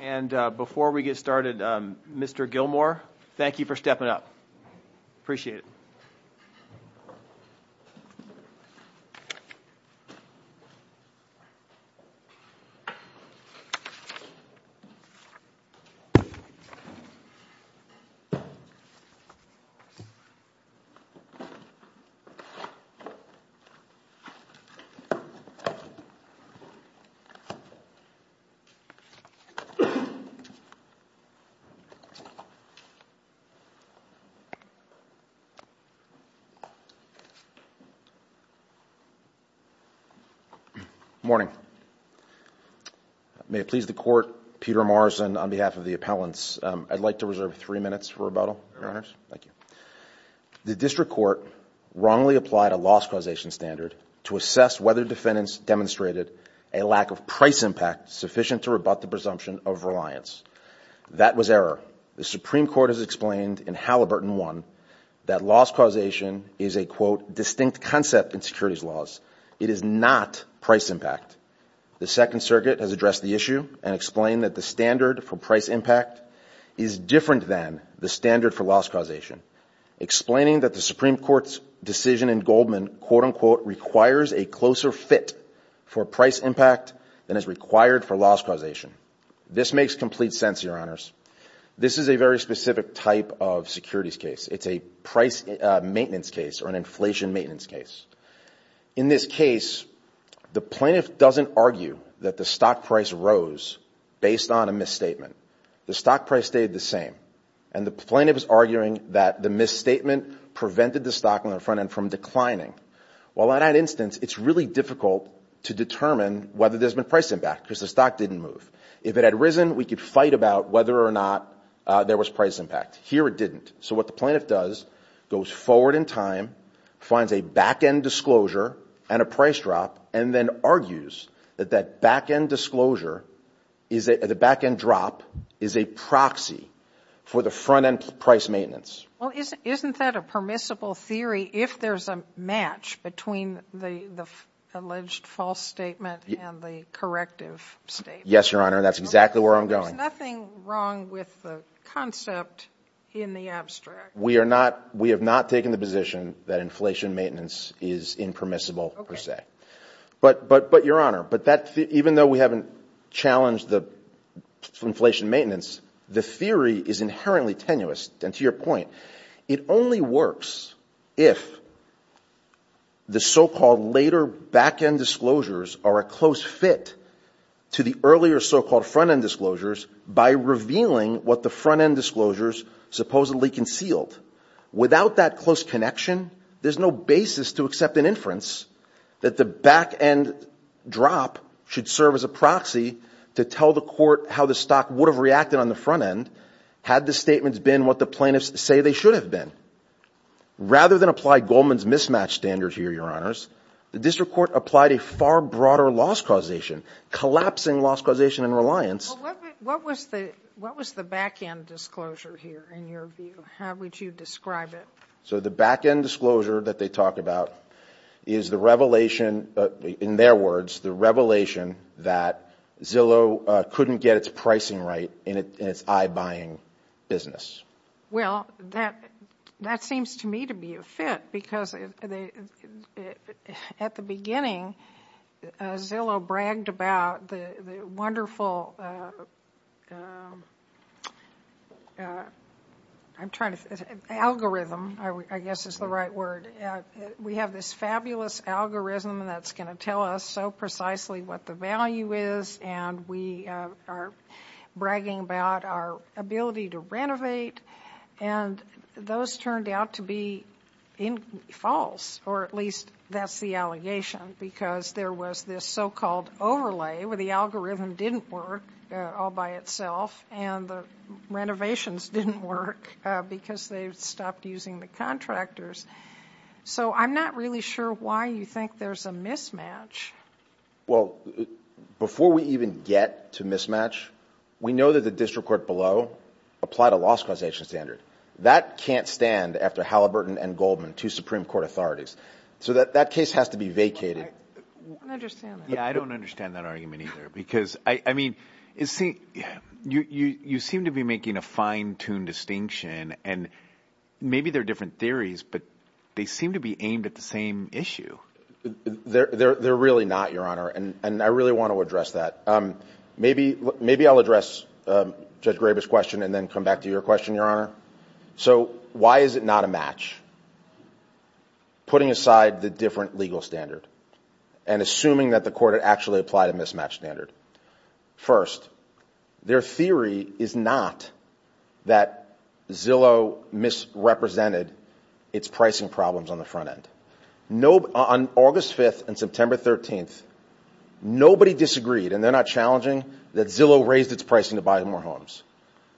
And before we get started, Mr. Gilmour, thank you for stepping up. Appreciate it. Good morning. May it please the Court, Peter Morrison on behalf of the appellants, I'd like to reserve three minutes for rebuttal, Your Honors. Thank you. The District Court wrongly applied a loss causation standard to assess whether defendants demonstrated a lack of price impact sufficient to rebut the presumption of reliance. That was error. The Supreme Court has explained in Halliburton 1 that loss causation is a, quote, distinct concept in securities laws. It is not price impact. The Second Circuit has addressed the issue and explained that the standard for price impact is different than the standard for loss causation, explaining that the Supreme Court's decision in Goldman, quote, unquote, a closer fit for price impact than is required for loss causation. This makes complete sense, Your Honors. This is a very specific type of securities case. It's a price maintenance case or an inflation maintenance case. In this case, the plaintiff doesn't argue that the stock price rose based on a misstatement. The stock price stayed the same. And the plaintiff is arguing that the misstatement prevented the stock on the front end from declining. Well, in that instance, it's really difficult to determine whether there's been price impact because the stock didn't move. If it had risen, we could fight about whether or not there was price impact. Here, it didn't. So what the plaintiff does, goes forward in time, finds a back-end disclosure and a price drop, and then argues that that back-end disclosure, the back-end drop, is a proxy for the front-end price maintenance. Well, isn't that a permissible theory if there's a match between the alleged false statement and the corrective statement? Yes, Your Honor. That's exactly where I'm going. There's nothing wrong with the concept in the abstract. We have not taken the position that inflation maintenance is impermissible, per se. But, Your Honor, even though we haven't challenged the inflation maintenance, the theory is inherently tenuous. To your point, it only works if the so-called later back-end disclosures are a close fit to the earlier so-called front-end disclosures by revealing what the front-end disclosures supposedly concealed. Without that close connection, there's no basis to accept an inference that the back-end drop should serve as a proxy to tell the court how the stock would have reacted on the front-end had the statements been what the plaintiffs say they should have been. Rather than apply Goldman's mismatch standard here, Your Honors, the district court applied a far broader loss causation, collapsing loss causation and reliance. Well, what was the back-end disclosure here, in your view? How would you describe it? So the back-end disclosure that they talk about is the revelation, in their words, the revelation that Zillow couldn't get its pricing right in its eye-buying business. Well, that seems to me to be a fit because at the beginning, Zillow bragged about the wonderful algorithm, I guess is the right word. We have this fabulous algorithm that's going to tell us precisely what the value is, and we are bragging about our ability to renovate, and those turned out to be false, or at least that's the allegation, because there was this so-called overlay where the algorithm didn't work all by itself and the renovations didn't work because they stopped using the contractors. So I'm not really sure why you think there's a mismatch Well, before we even get to mismatch, we know that the district court below applied a loss causation standard. That can't stand after Halliburton and Goldman, two Supreme Court authorities. So that case has to be vacated. I don't understand that. Yeah, I don't understand that argument either, because I mean, you seem to be making a fine-tuned distinction, and maybe they're different theories, but they seem to be aimed at the same issue. They're really not, Your Honor, and I really want to address that. Maybe I'll address Judge Graber's question and then come back to your question, Your Honor. So why is it not a match, putting aside the different legal standard and assuming that the court had actually applied a mismatch standard? First, their theory is not that Zillow misrepresented its pricing problems on the front end. On August 5th and September 13th, nobody disagreed, and they're not challenging, that Zillow raised its pricing to buy more homes.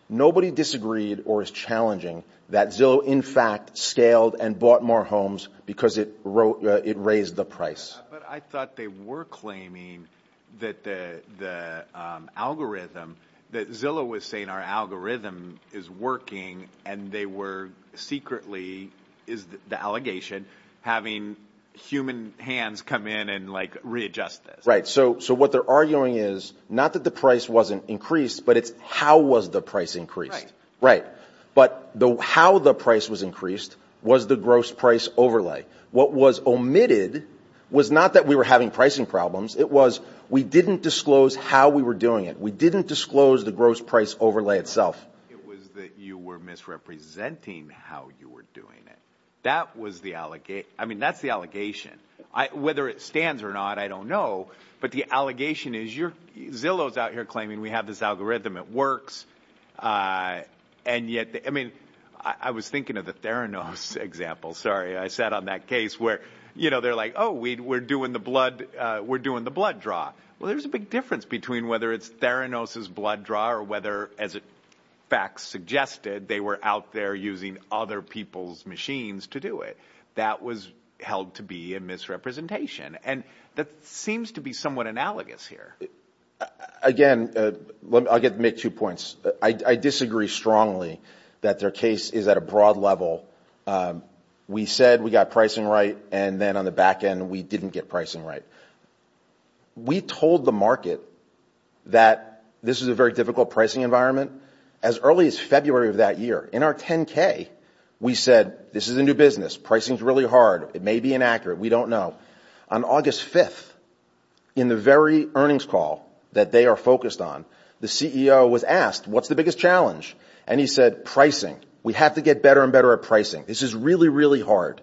Nobody disagreed or is challenging that Zillow in fact scaled and bought more homes because it raised the price. But I thought they were claiming that the algorithm, that Zillow was saying our algorithm is working, and they were secretly, is the allegation, having human hands come in and like readjust this. Right. So what they're arguing is not that the price wasn't increased, but it's how was the price increased. Right. But how the price was increased was the gross price overlay. What was omitted was not that we were having pricing problems. It was we didn't disclose how we were doing it. We didn't disclose the gross price overlay itself. It was that you were misrepresenting how you were doing it. That was the allegation. I mean, that's the allegation. Whether it stands or not, I don't know. But the allegation is your Zillow's out here claiming we have this algorithm. It works. And yet, I mean, I was thinking of the Theranos example. Sorry. I sat on that case where, you know, they're like, oh, we were doing the blood. We're doing the blood draw. Well, there's a big difference between whether it's Theranos' blood draw or whether, as facts suggested, they were out there using other people's machines to do it. That was held to be a misrepresentation. And that seems to be somewhat analogous here. Again, I'll make two points. I disagree strongly that their case is at a broad level. We said we got pricing right. And then on the back end, we didn't get pricing right. We told the market that this is a very difficult pricing environment. As early as February of that year, in our 10K, we said this is a new business. Pricing is really hard. It may be inaccurate. We don't know. On August 5th, in the very earnings call that they are focused on, the CEO was asked, what's the biggest challenge? And he said pricing. We have to get better and better at pricing. This is really, really hard.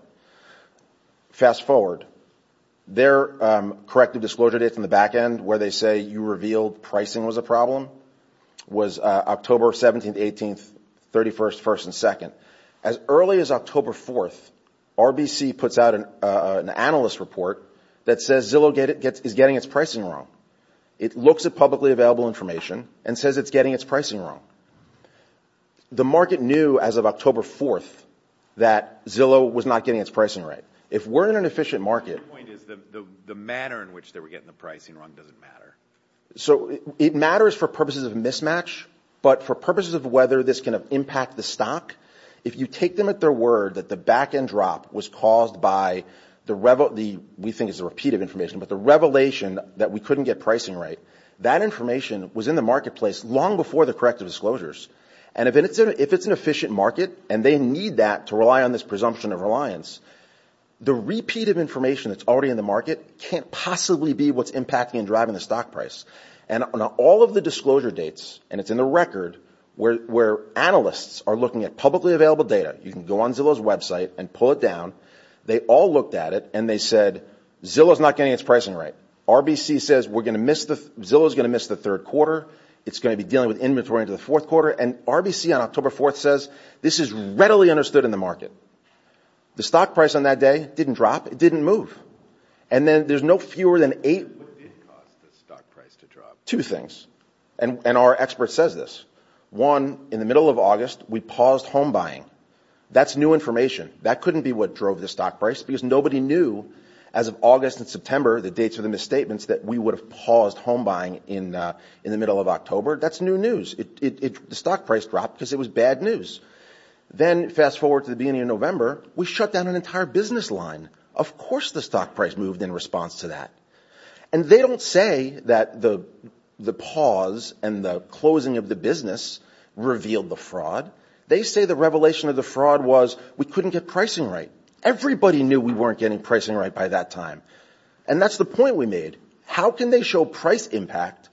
Fast forward. Their corrective disclosure date from the back end, where they say you revealed pricing was a problem, was October 17th, 18th, 31st, 1st, and 2nd. As early as October 4th, RBC puts out an analyst report that says Zillow is getting its pricing wrong. It looks at publicly available information and says it's getting its pricing wrong. The market knew as of October 4th that Zillow was not getting its pricing right. If we're in an efficient market... My point is the manner in which they were getting the pricing wrong doesn't matter. So it matters for purposes of mismatch, but for purposes of whether this can impact the stock, if you take them at their word that the back end drop was caused by the, we think it's a repeat of information, but the revelation that we couldn't get pricing right, that information was in the marketplace long before the corrective disclosures. If it's an efficient market and they need that to rely on this presumption of reliance, the repeat of information that's already in the market can't possibly be what's impacting and driving the stock price. All of the disclosure dates, and it's in the record, where analysts are looking at publicly available data. You can go on Zillow's website and pull it down. They all looked at it and they said Zillow's not getting its quarter. It's going to be dealing with inventory into the fourth quarter. And RBC on October 4th says this is readily understood in the market. The stock price on that day didn't drop. It didn't move. And then there's no fewer than eight... What did it cost the stock price to drop? Two things. And our expert says this. One, in the middle of August, we paused home buying. That's new information. That couldn't be what drove the stock price because nobody knew as of August and September, the dates of the misstatements, that we would have paused home buying in the middle of October. That's new news. The stock price dropped because it was bad news. Then fast forward to the beginning of November, we shut down an entire business line. Of course the stock price moved in response to that. And they don't say that the pause and the closing of the business revealed the fraud. They say the revelation of the fraud was we couldn't get pricing right. Everybody knew we weren't getting pricing right by that time. And that's the point we made. How can they show price impact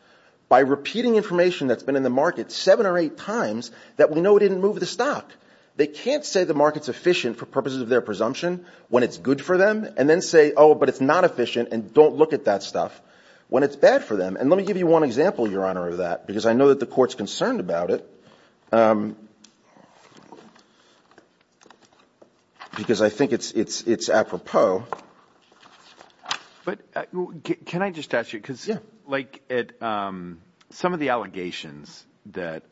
by repeating information that's been in the market seven or eight times that we know didn't move the stock? They can't say the market's efficient for purposes of their presumption when it's good for them and then say, oh, but it's not efficient and don't look at that stuff when it's bad for them. And let me give you one example, Your Honor, of that because I know that the court's concerned about it because I think it's apropos. But can I just ask you, because like some of the allegations that,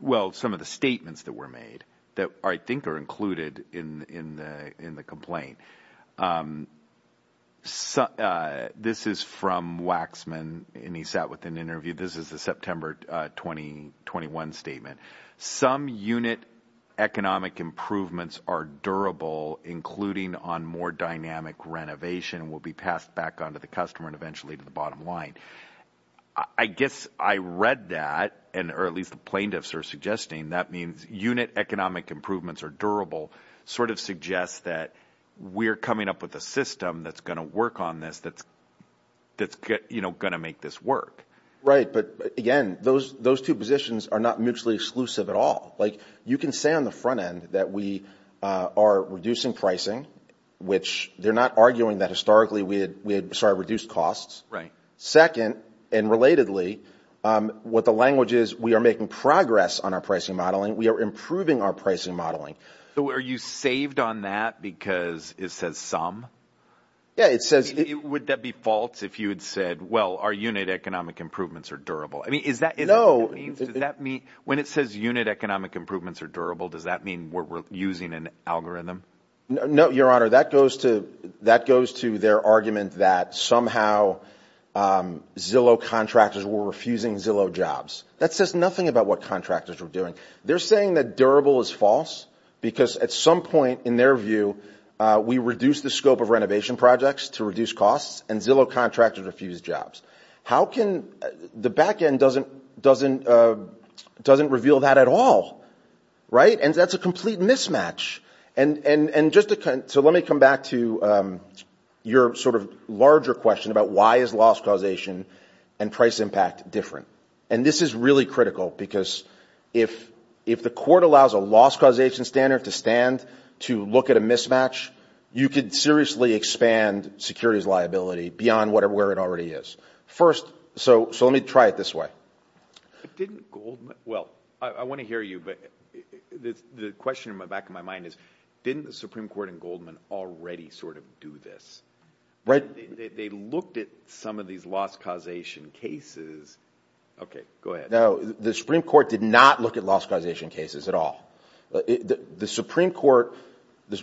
well, some of the statements that were made that I think are included in the complaint, this is from Waxman and he sat with an interview. This is the September 2021 statement. Some unit economic improvements are durable, including on more dynamic renovation will be passed back on to the customer and eventually to the bottom line. I guess I read that, or at least the plaintiffs are suggesting, that means unit economic improvements are durable sort of suggests that we're coming up with a system that's going to work on this, that's going to make this work. Right. But again, those two positions are not mutually exclusive at all. You can say on the front end that we are reducing pricing, which they're not arguing that historically we had reduced costs. Second, and relatedly, what the language is, we are making progress on pricing modeling. We are improving our pricing modeling. So are you saved on that because it says some? Yeah, it says... Would that be false if you had said, well, our unit economic improvements are durable? I mean, is that... No. Does that mean when it says unit economic improvements are durable, does that mean we're using an algorithm? No, your honor, that goes to their argument that somehow Zillow contractors were refusing Zillow jobs. That says nothing about what contractors were doing. They're saying that durable is false because at some point in their view, we reduce the scope of renovation projects to reduce costs and Zillow contractors refuse jobs. How can... The back end doesn't reveal that at all, right? And that's a complete mismatch. And just to... So let me come back to your sort of larger question about why is loss causation and price impact different? And this is really critical because if the court allows a loss causation standard to stand, to look at a mismatch, you could seriously expand security's liability beyond where it already is. First, so let me try it this way. Didn't Goldman... Well, I want to hear you, but the question in the back of my mind is, didn't the Supreme Court and Goldman already sort this? They looked at some of these loss causation cases. Okay, go ahead. No, the Supreme Court did not look at loss causation cases at all. The Supreme Court...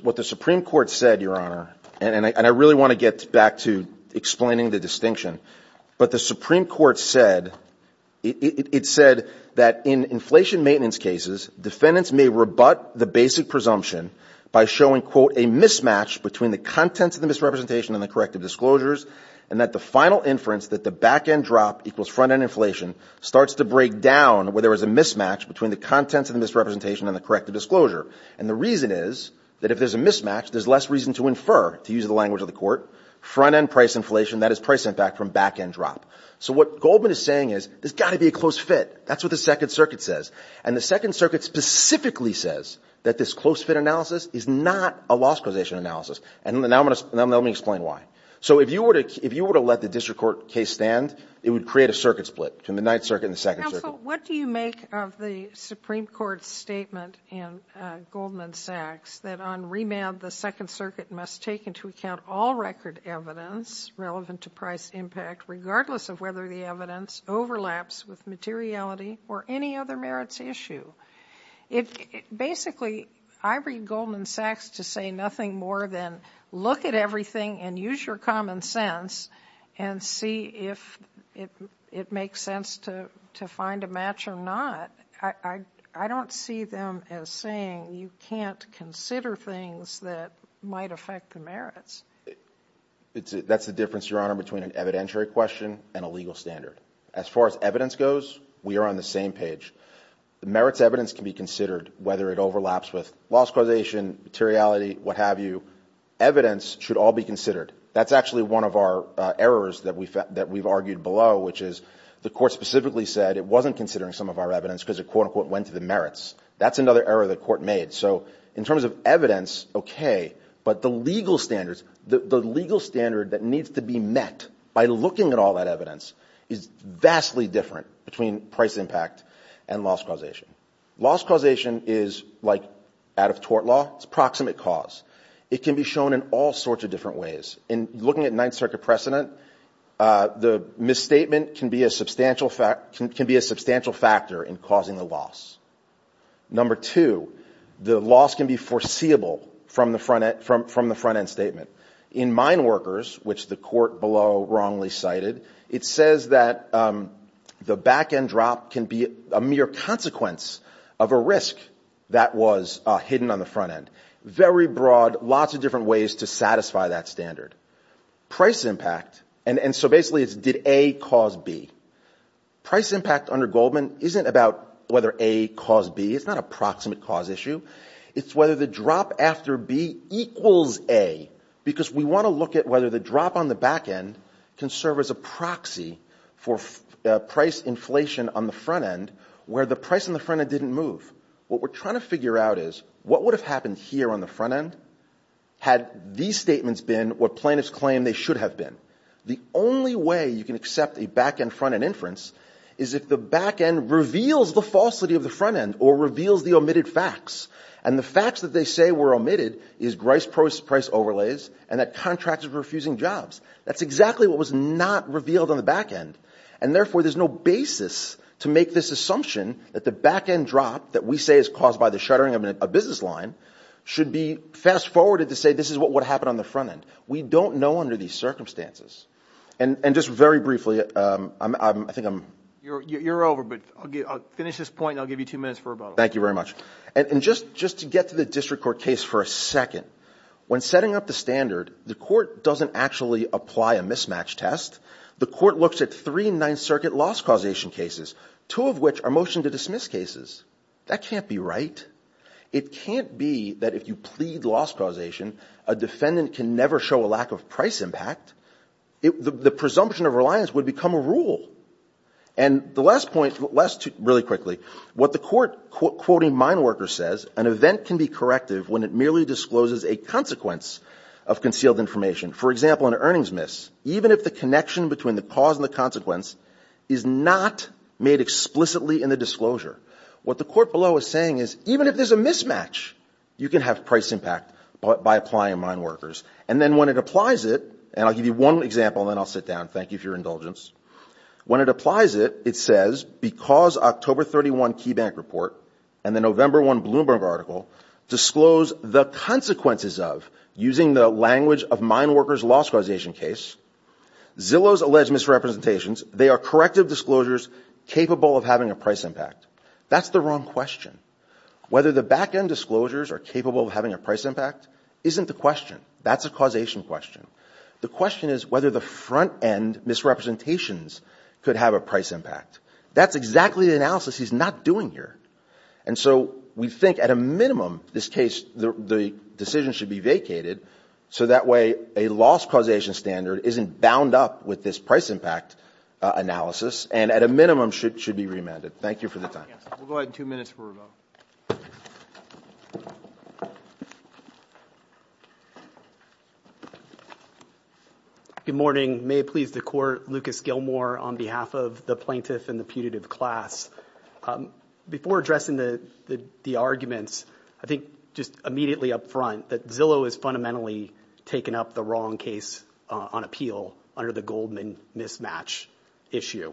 What the Supreme Court said, your honor, and I really want to get back to explaining the distinction, but the Supreme Court said, it said that in inflation maintenance cases, defendants may rebut the basic presumption by showing, quote, a mismatch between the contents of the misrepresentation and the corrective disclosures, and that the final inference that the back-end drop equals front-end inflation starts to break down where there was a mismatch between the contents of the misrepresentation and the corrective disclosure. And the reason is that if there's a mismatch, there's less reason to infer, to use the language of the court, front-end price inflation, that is price impact from back-end drop. So what Goldman is saying is there's got to be a close fit. That's what the Second Circuit says. And the Second Circuit specifically says that this close fit analysis is not a loss causation analysis. And now let me explain why. So if you were to let the district court case stand, it would create a circuit split between the Ninth Circuit and the Second Circuit. Counsel, what do you make of the Supreme Court's statement in Goldman Sachs that on remand, the Second Circuit must take into account all record evidence relevant to price impact, regardless of whether the evidence overlaps with materiality or any other merits issue? Basically, I read Goldman Sachs to say nothing more than look at everything and use your common sense and see if it makes sense to find a match or not. I don't see them as saying you can't consider things that might affect the merits. That's the difference, Your Honor, between an evidentiary question and a legal standard. As far as evidence goes, we are on the same page. The merits evidence can be considered, whether it overlaps with loss causation, materiality, what have you. Evidence should all be considered. That's actually one of our errors that we've argued below, which is the court specifically said it wasn't considering some of our evidence because it, quote-unquote, went to the merits. That's another error the court made. In terms of evidence, okay, but the legal standard that needs to be met by looking at all that evidence is vastly different between price impact and loss causation. Loss causation is like out-of-tort law. It's a proximate cause. It can be shown in all sorts of different ways. In looking at Ninth Circuit precedent, the misstatement can be a substantial factor in the loss. Number two, the loss can be foreseeable from the front-end statement. In Mineworkers, which the court below wrongly cited, it says that the back-end drop can be a mere consequence of a risk that was hidden on the front-end. Very broad, lots of different ways to satisfy that standard. Price impact, and so basically it's did A cause B. Price impact under Goldman isn't about whether A caused B. It's not a proximate cause issue. It's whether the drop after B equals A because we want to look at whether the drop on the back-end can serve as a proxy for price inflation on the front-end where the price on the front-end didn't move. What we're trying to figure out is what would have happened here on the front-end had these statements been what plaintiffs claim they should have been. The only way you can accept a back-end front-end inference is if the back-end reveals the falsity of the front-end or reveals the omitted facts, and the facts that they say were omitted is Grice Price overlays and that contractors were refusing jobs. That's exactly what was not revealed on the back-end, and therefore there's no basis to make this assumption that the back-end drop that we say is caused by the shuttering of a business line should be fast-forwarded to say this is what would happen on the front-end. We don't know under these circumstances. And just very briefly, I think I'm... You're over, but I'll finish this point and I'll give you two minutes for rebuttal. Thank you very much. And just to get to the district court case for a second, when setting up the standard, the court doesn't actually apply a mismatch test. The court looks at three Ninth Circuit loss causation cases, two of which are motion-to-dismiss cases. That can't be right. It can't be that if you plead loss causation, a defendant can never show a lack of price impact. The presumption of reliance would become a rule. And the last point, really quickly, what the court quoting Mineworker says, an event can be corrective when it merely discloses a consequence of concealed information. For example, an earnings miss, even if the connection between the cause and the consequence is not made explicitly in the disclosure. What the court below is saying is, even if there's a mismatch, you can have price impact by applying Mineworkers. And then when it applies it, and I'll give you one example, then I'll sit down. Thank you for your indulgence. When it applies it, it says, because October 31 Key Bank Report and the November 1 Bloomberg article disclose the consequences of using the language of Mineworkers loss causation case, Zillow's alleged misrepresentations, they are corrective disclosures capable of having a price impact. That's the wrong question. Whether the back-end disclosures are capable of having a price impact isn't the question. That's a causation question. The question is whether the front-end misrepresentations could have a price impact. That's exactly the analysis he's not doing here. And so we think at a minimum, this case, the decision should be vacated so that way a loss causation standard isn't bound up with this price impact analysis. And at a minimum, it should be remanded. Thank you for the time. We'll go ahead in two minutes for a vote. Good morning. May it please the court, Lucas Gilmore on behalf of the plaintiff and the putative class. Before addressing the arguments, I think just immediately up front that Zillow has fundamentally taken up the wrong case on appeal under the Goldman mismatch issue.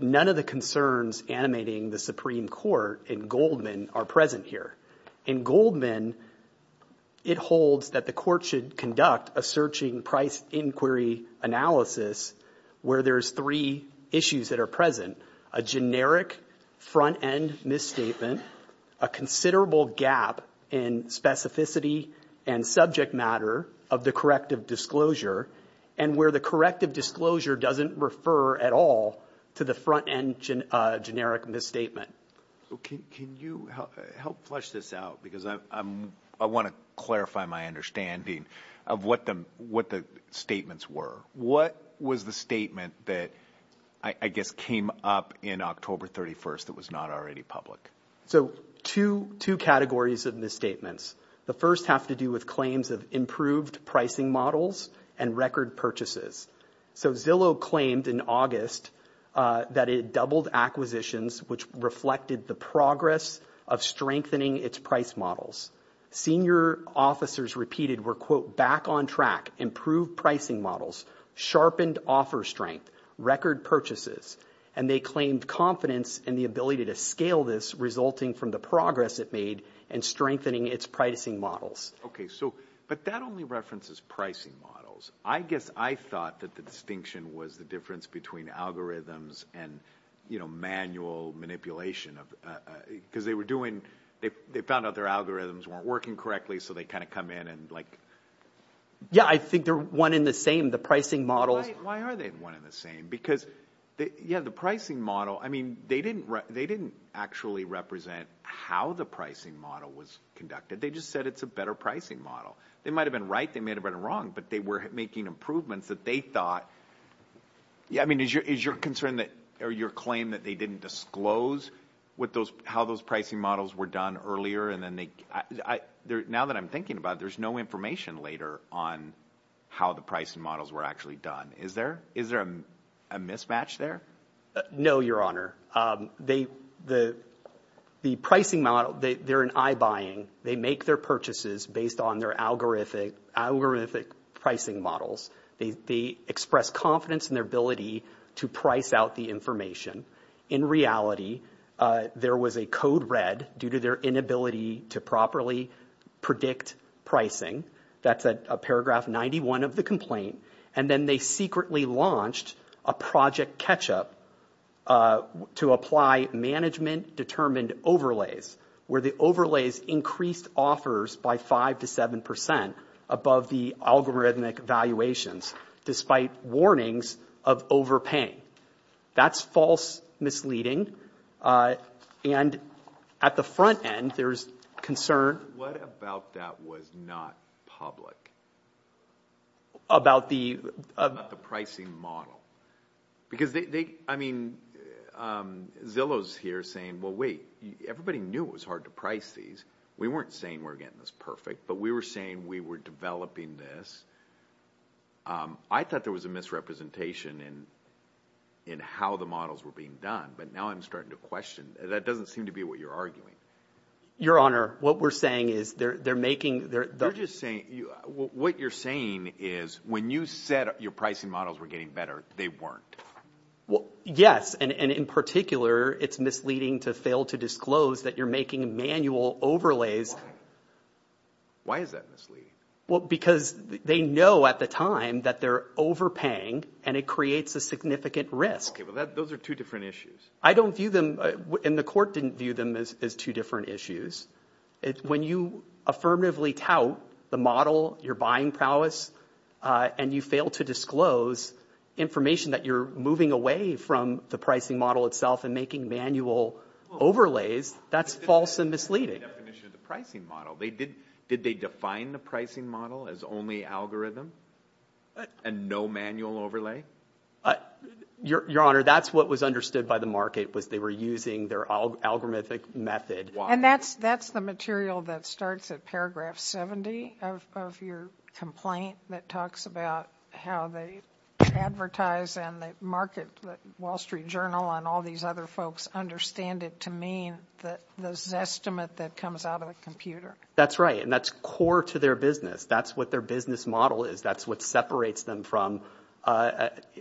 None of the concerns animating the Supreme Court in Goldman are present here. In Goldman, it holds that the court should conduct a searching price inquiry analysis where there's three issues that are present. A generic front-end misstatement, a considerable gap in specificity and subject matter of the corrective disclosure, and where the corrective disclosure doesn't refer at all to the front-end generic misstatement. Can you help flesh this out? Because I want to clarify my understanding of what the statements were. What was the statement that, I guess, came up in October 31st that was not already public? So two categories of misstatements. The first have to do with claims of improved pricing models and record purchases. So Zillow claimed in August that it doubled acquisitions, which reflected the progress of strengthening its price models. Senior officers repeated were, quote, back on track, improved pricing models, sharpened offer strength, record purchases. And they claimed confidence in the ability to scale this resulting from the progress it made and strengthening its pricing models. Okay. But that only references pricing models. I guess I thought that the distinction was the difference between algorithms and manual manipulation because they found out their algorithms weren't working correctly, so they kind of come in and like... Yeah. I think they're one in the same, the pricing models. Why are they one in the same? Because, yeah, the pricing model, I mean, they didn't actually represent how the pricing model was conducted. They just said it's a better pricing model. They might've been right, they might've been wrong, but they were making improvements that they thought... I mean, is your concern that, or your claim that they didn't disclose how those pricing models were done earlier and then they... Now that I'm thinking about it, there's no information later on how the pricing models were actually done. Is there a mismatch there? No, your honor. The pricing model, they're an eye buying. They make their purchases based on their algorithmic pricing models. They express confidence in their ability to price out the In reality, there was a code read due to their inability to properly predict pricing. That's a paragraph 91 of the complaint. And then they secretly launched a project catch up to apply management determined overlays, where the overlays increased offers by 5% to 7% above the algorithmic valuations, despite warnings of overpaying. That's false misleading. And at the front end, there's concern... What about that was not public? About the... About the pricing model. Because they, I mean, Zillow's here saying, well, wait, everybody knew it was hard to price these. We weren't saying we're getting this perfect, but we were saying we were developing this. I thought there was a misrepresentation in how the models were being done. But now I'm starting to question, that doesn't seem to be what you're arguing. Your honor, what we're saying is they're making... What you're saying is when you said your pricing models were getting better, they weren't. Well, yes. And in particular, it's misleading to fail to disclose that you're making manual overlays. Why? Why is that misleading? Well, because they know at the time that they're overpaying and it creates a significant risk. Okay. Well, those are two different issues. I don't view them, and the court didn't view them as two different issues. When you affirmatively tout the model, your buying prowess, and you fail to disclose information that you're moving away from the pricing model itself and making manual overlays, that's false and misleading. That's not the definition of the pricing model. Did they define the pricing model as only algorithm and no manual overlay? Your honor, that's what was understood by the market was they were using their algorithmic method. And that's the material that starts at paragraph 70 of your complaint that talks about how they advertise and they market the Wall Street Journal and all these other folks understand it to mean the Zestimate that comes out of a computer. That's right. And that's core to their business. That's what their business model is. That's what separates them from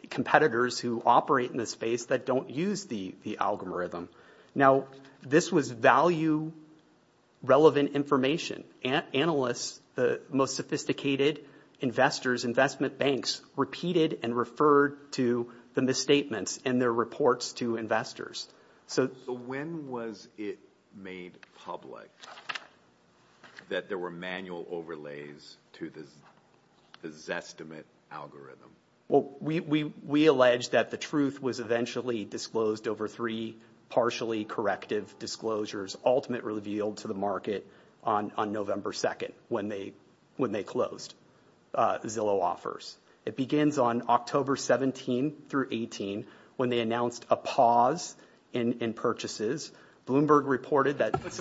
competitors who operate in this space that don't use the algorithm. Now, this was value-relevant information. Analysts, the most sophisticated investors, investment banks, repeated and referred to the misstatements in their reports to investors. So when was it made public that there were manual overlays to the Zestimate algorithm? Well, we allege that the truth was eventually disclosed over three partially corrective disclosures, ultimately revealed to the market on November 2nd when they closed Zillow offers. It begins on October 17th through 18th when they announced a pause in purchases. Bloomberg reported that... But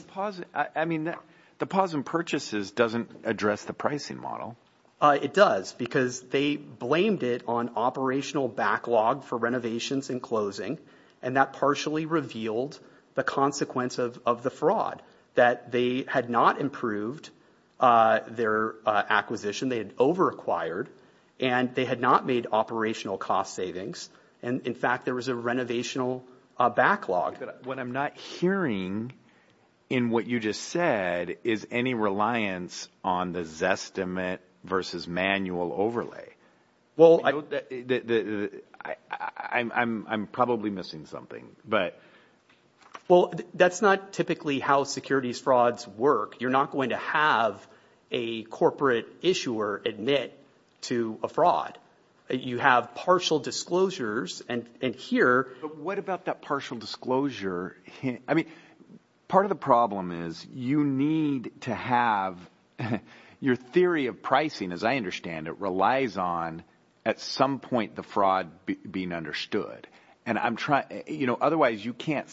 the pause in purchases doesn't address the pricing model. It does because they blamed it on operational backlog for renovations and closing. And that partially revealed the consequence of the fraud that they had not improved their acquisition. They had over-acquired and they had not made operational cost savings. And in fact, there was a renovational backlog. What I'm not hearing in what you just said is any reliance on the Zestimate versus manual overlay. I'm probably missing something, but... Well, that's not typically how securities frauds work. You're not going to have a corporate issuer admit to a fraud. You have partial disclosures and here... But what about that partial disclosure? I mean, part of the problem is you need to have your theory of pricing, as I understand it, relies on at some point the fraud being understood. And I'm trying... Otherwise, you can't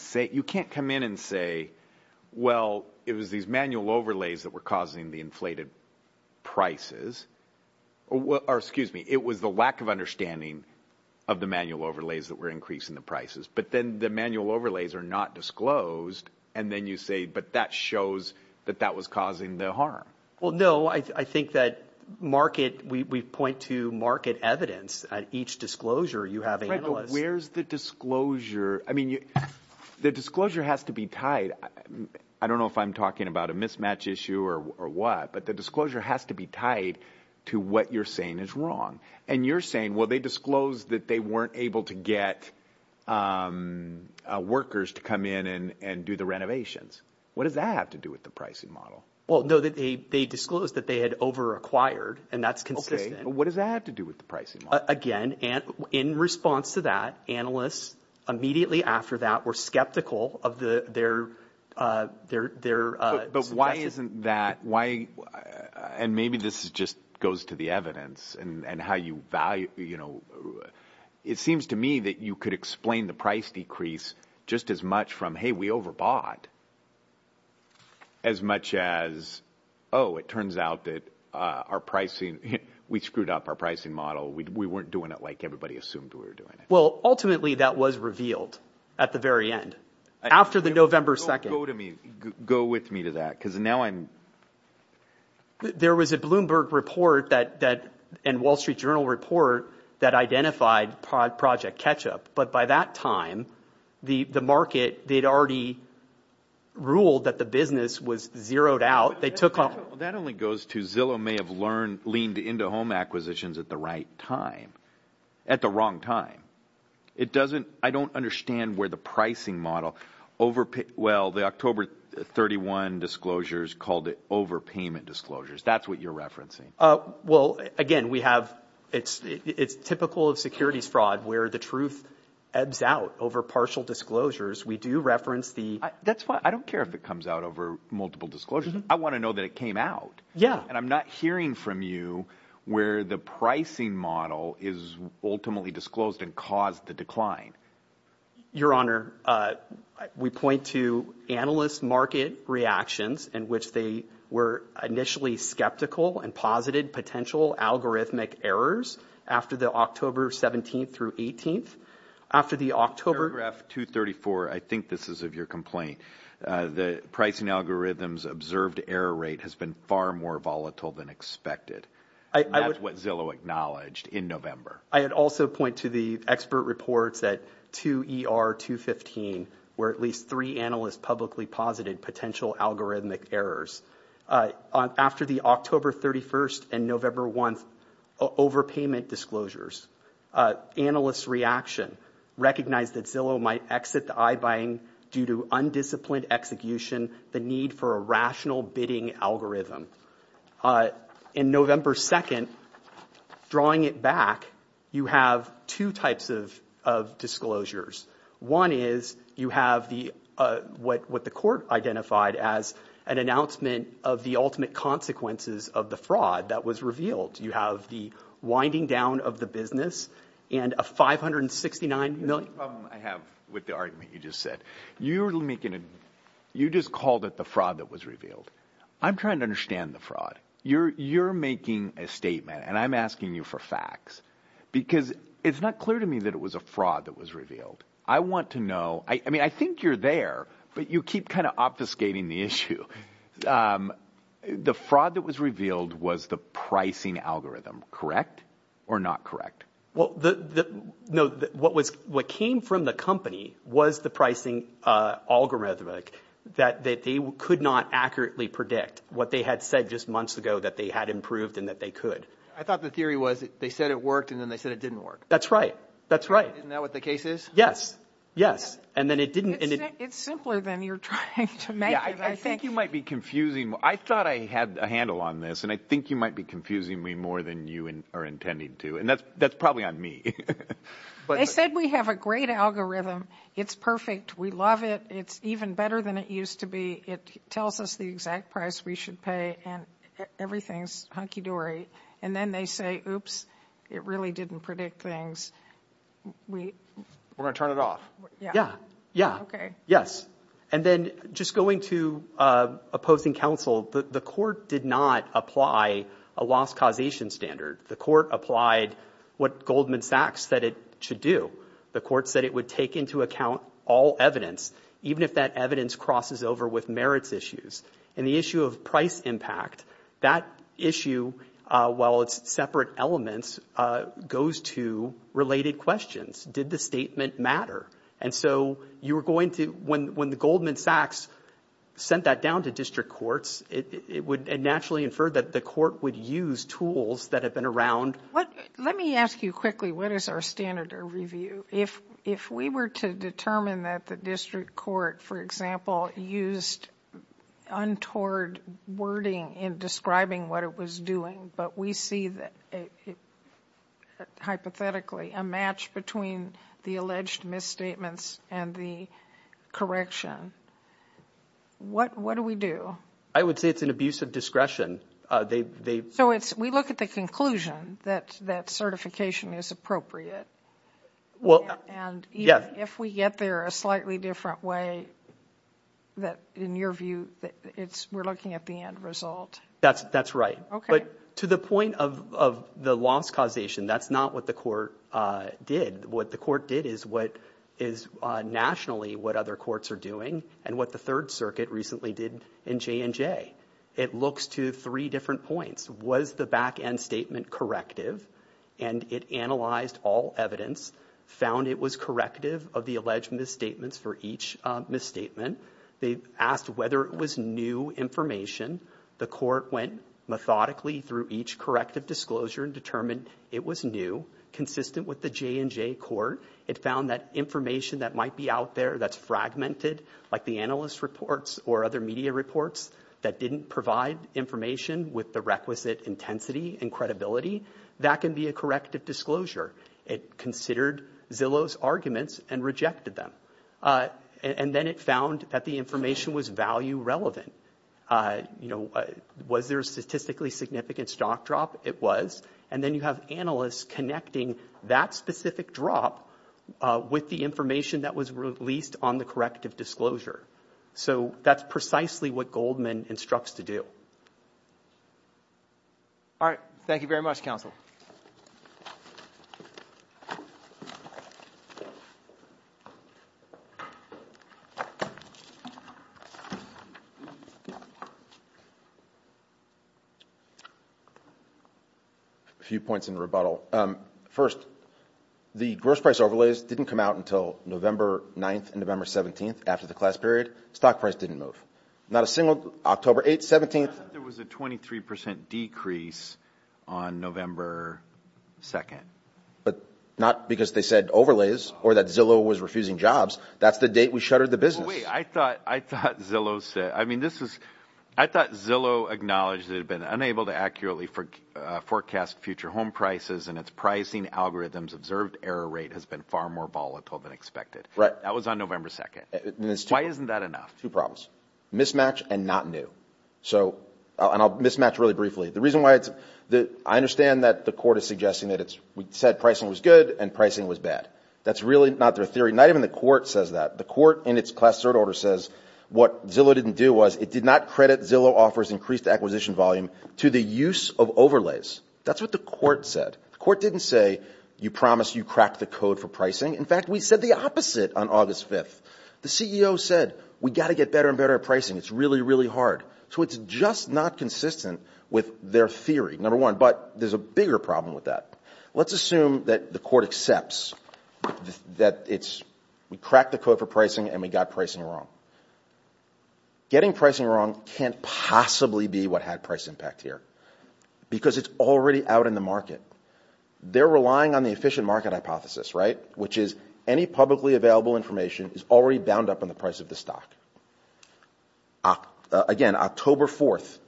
come in and say, well, it was these manual overlays that were causing the inflated prices. Or excuse me, it was the lack of understanding of the manual overlays that were increasing the prices. But then the manual overlays are not disclosed. And then you say, but that shows that that was causing the harm. Well, no, I think that market... We point to market evidence at each disclosure. You have the disclosure. I mean, the disclosure has to be tied. I don't know if I'm talking about a mismatch issue or what, but the disclosure has to be tied to what you're saying is wrong. And you're saying, well, they disclosed that they weren't able to get workers to come in and do the renovations. What does that have to do with the pricing model? Well, no, they disclosed that they had over-acquired and that's consistent. What does that have to do with the pricing model? In response to that, analysts immediately after that were skeptical of their suggestions. But why isn't that... And maybe this just goes to the evidence and how you value... It seems to me that you could explain the price decrease just as much from, hey, we overbought, as much as, oh, it turns out that we screwed up our pricing model. We weren't doing it like everybody assumed we were doing it. Well, ultimately, that was revealed at the very end, after the November 2nd. Go with me to that because now I'm... There was a Bloomberg report and Wall Street Journal report that identified Project Ketchup. But by that time, the market, they'd already ruled that the business was zeroed out. But that only goes to Zillow may have leaned into home acquisitions at the right time, at the wrong time. I don't understand where the pricing model... Well, the October 31 disclosures called it overpayment disclosures. That's what you're referencing. Well, again, we have... It's typical of securities fraud where the truth ebbs out over partial disclosures. We do reference the... That's why I don't care if it comes out over multiple disclosures. I want to know that it came out. And I'm not hearing from you where the pricing model is ultimately disclosed and caused the decline. Your Honor, we point to analyst market reactions in which they were initially skeptical and posited potential algorithmic errors after the October 17th through 18th. After the October... Paragraph 234, I think this is of your complaint. The pricing algorithms observed error rate has been far more volatile than expected. That's what Zillow acknowledged in November. I had also point to the expert reports that 2ER215, where at least three analysts publicly posited potential algorithmic errors after the October 31st and November 1st overpayment disclosures. Analysts' reaction recognized that Zillow might exit the eye buying due to undisciplined execution, the need for a rational bidding algorithm. In November 2nd, drawing it back, you have two types of disclosures. One is you have what the court identified as an announcement of the ultimate consequences of the fraud that was revealed. You have the winding down of the business and a $569 million... That's the problem I have with the argument you just said. You just called it the fraud that was revealed. I'm trying to understand the fraud. You're making a statement and I'm asking you for facts because it's not clear to me that it was a fraud that was revealed. I want to know. I mean, I think you're there, but you keep kind of obfuscating the issue. The fraud that was revealed was the pricing algorithm, correct or not correct? Well, no. What came from the company was the pricing algorithmic that they could not accurately predict what they had said just months ago that they had improved and that they could. I thought the theory was they said it worked and then they said it didn't work. That's right. That's right. Isn't that what the case is? Yes. And then it didn't... It's simpler than you're trying to make it. I think you might be confusing. I thought I had a handle on this and I think you might be confusing me more than you are intending to. And that's probably on me. They said we have a great algorithm. It's perfect. We love it. It's even better than it used to be. It tells us the exact price we should pay and everything's hunky dory. And then they say, oops, it really didn't predict things. We're going to turn it off. Yeah. Yeah. Okay. Yes. And then just going to opposing counsel, the court did not apply a loss causation standard. The court applied what Goldman Sachs said it should do. The court said it would take into account all evidence, even if that evidence crosses over with merits issues. And the issue of price impact, that issue, while it's separate elements, goes to related questions. Did the statement matter? And so you were going to, when the Goldman Sachs sent that down to district courts, it would naturally infer that the court would use tools that have been around. Let me ask you quickly, what is our standard of review? If we were to determine that the court, for example, used untoward wording in describing what it was doing, but we see hypothetically a match between the alleged misstatements and the correction, what do we do? I would say it's an abuse of discretion. So we look at the conclusion that certification is appropriate. Well, yeah. And even if we get there a slightly different way, in your view, we're looking at the end result. That's right. But to the point of the loss causation, that's not what the court did. What the court did is what is nationally what other courts are doing and what the Third Circuit recently did in J&J. It looks to three different points. Was the back end statement corrective? And it analyzed all evidence, found it was corrective of the alleged misstatements for each misstatement. They asked whether it was new information. The court went methodically through each corrective disclosure and determined it was new, consistent with the J&J court. It found that information that might be out there that's fragmented, like the analyst reports or other media reports, that didn't provide information with the requisite intensity and credibility, that can be a corrective disclosure. It considered Zillow's arguments and rejected them. And then it found that the information was value relevant. You know, was there a statistically significant stock drop? It was. And then you have analysts connecting that specific drop with the information that was released on the corrective disclosure. So that's precisely what Goldman instructs to do. All right. Thank you very much, counsel. A few points in rebuttal. First, the gross price overlays didn't come out until November 9th and November 17th after the class period. Stock price didn't move. Not a single October 8th, 17th. There was a 23% decrease on November 2nd. But not because they said overlays or that Zillow was refusing jobs. That's the date we shuttered the business. I thought Zillow said, I mean, this is, I thought Zillow acknowledged that it had been unable to accurately forecast future home prices and its pricing algorithms observed error rate has been far more volatile than expected. Right. That was on November 2nd. Why isn't that enough? Two problems, mismatch and not new. So, and I'll mismatch really briefly. The reason why it's the, I understand that the court is suggesting that it's, we said pricing was good and pricing was bad. That's really not their theory. Not even the court says that. The court in its class third order says what Zillow didn't do was it did not credit Zillow offers increased acquisition volume to the use of overlays. That's what the court said. The court didn't say, you promised you cracked the code for pricing. In fact, we said the opposite on August 5th, the CEO said, we got to get better and better pricing. It's really, really hard. So it's just not consistent with their theory. Number one, but there's a bigger problem with that. Let's assume that the court accepts that it's, we cracked the code for pricing and we got pricing wrong. Getting pricing wrong can't possibly be what had price impact here because it's already out in the market. They're relying on the efficient market hypothesis, right? Which is any publicly available information is already bound up on the price of the stock. Again, October 4th,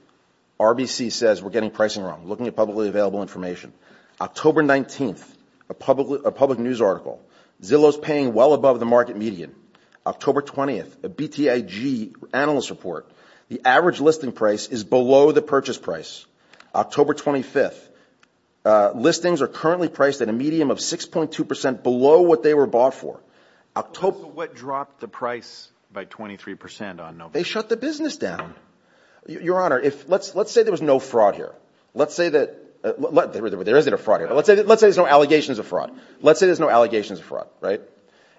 RBC says we're getting pricing wrong. Looking at publicly available information. October 19th, a public news article. Zillow's paying well above the market median. October 20th, a BTIG analyst report. The average listing price is below the price. October 25th, listings are currently priced at a medium of 6.2% below what they were bought for. What dropped the price by 23% on November? They shut the business down. Your Honor, let's say there was no fraud here. Let's say there's no allegations of fraud. Let's say there's no allegations of fraud, right?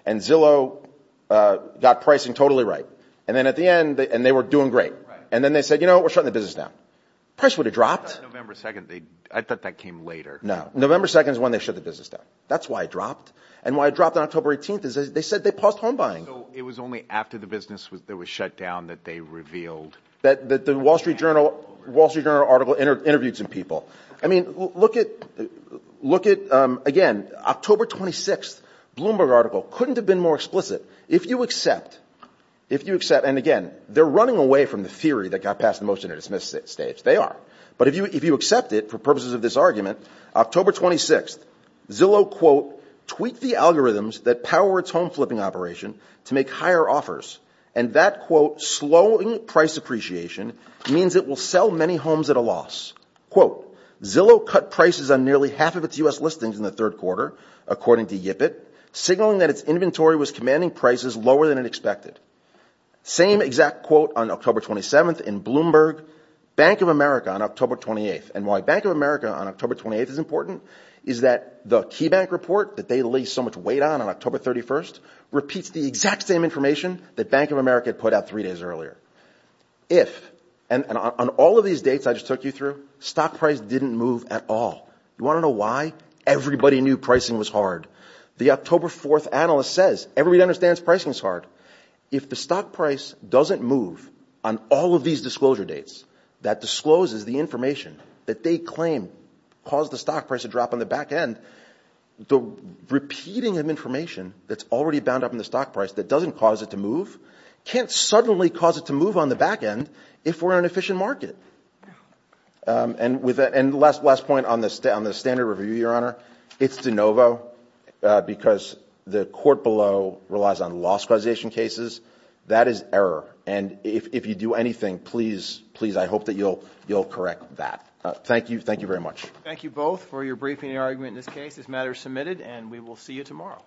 And Zillow got pricing totally right. And then at the end, and they were doing great. And then they said, you know, we're shutting the business down. Price would have dropped. November 2nd, I thought that came later. No. November 2nd is when they shut the business down. That's why it dropped. And why it dropped on October 18th is they said they paused home buying. So it was only after the business was shut down that they revealed? That the Wall Street Journal article interviewed some people. I mean, look at, again, October 26th, Bloomberg article, couldn't have been more explicit. If you accept, and again, they're running away from the theory that got passed the motion to dismiss it stage. They are, but if you, if you accept it for purposes of this argument, October 26th Zillow quote, tweak the algorithms that power its home flipping operation to make higher offers. And that quote, slowing price appreciation means it will sell many homes at a loss. Quote, Zillow cut prices on nearly half of its us listings in the third quarter, according to Yipit signaling that its was commanding prices lower than it expected. Same exact quote on October 27th in Bloomberg, bank of America on October 28th. And why bank of America on October 28th is important is that the key bank report that they lay so much weight on, on October 31st repeats the exact same information that bank of America had put out three days earlier. If, and on all of these dates, I just took you through stock price didn't move at all. You want to know why? Everybody knew pricing was hard. The October 4th analyst says, everybody understands pricing is hard. If the stock price doesn't move on all of these disclosure dates that discloses the information that they claim caused the stock price to drop on the back end, the repeating of information that's already bound up in the stock price that doesn't cause it to move, can't suddenly cause it to move on the back end if we're on an efficient market. Um, and with that, and the last, last point on this day on the standard review, your honor, it's de novo, uh, because the court below relies on loss causation cases. That is error. And if, if you do anything, please, please, I hope that you'll, you'll correct that. Thank you. Thank you very much. Thank you both for your briefing and argument. In this case, this matter is submitted and we will see you tomorrow. Do you want to go ahead? Of course the dissection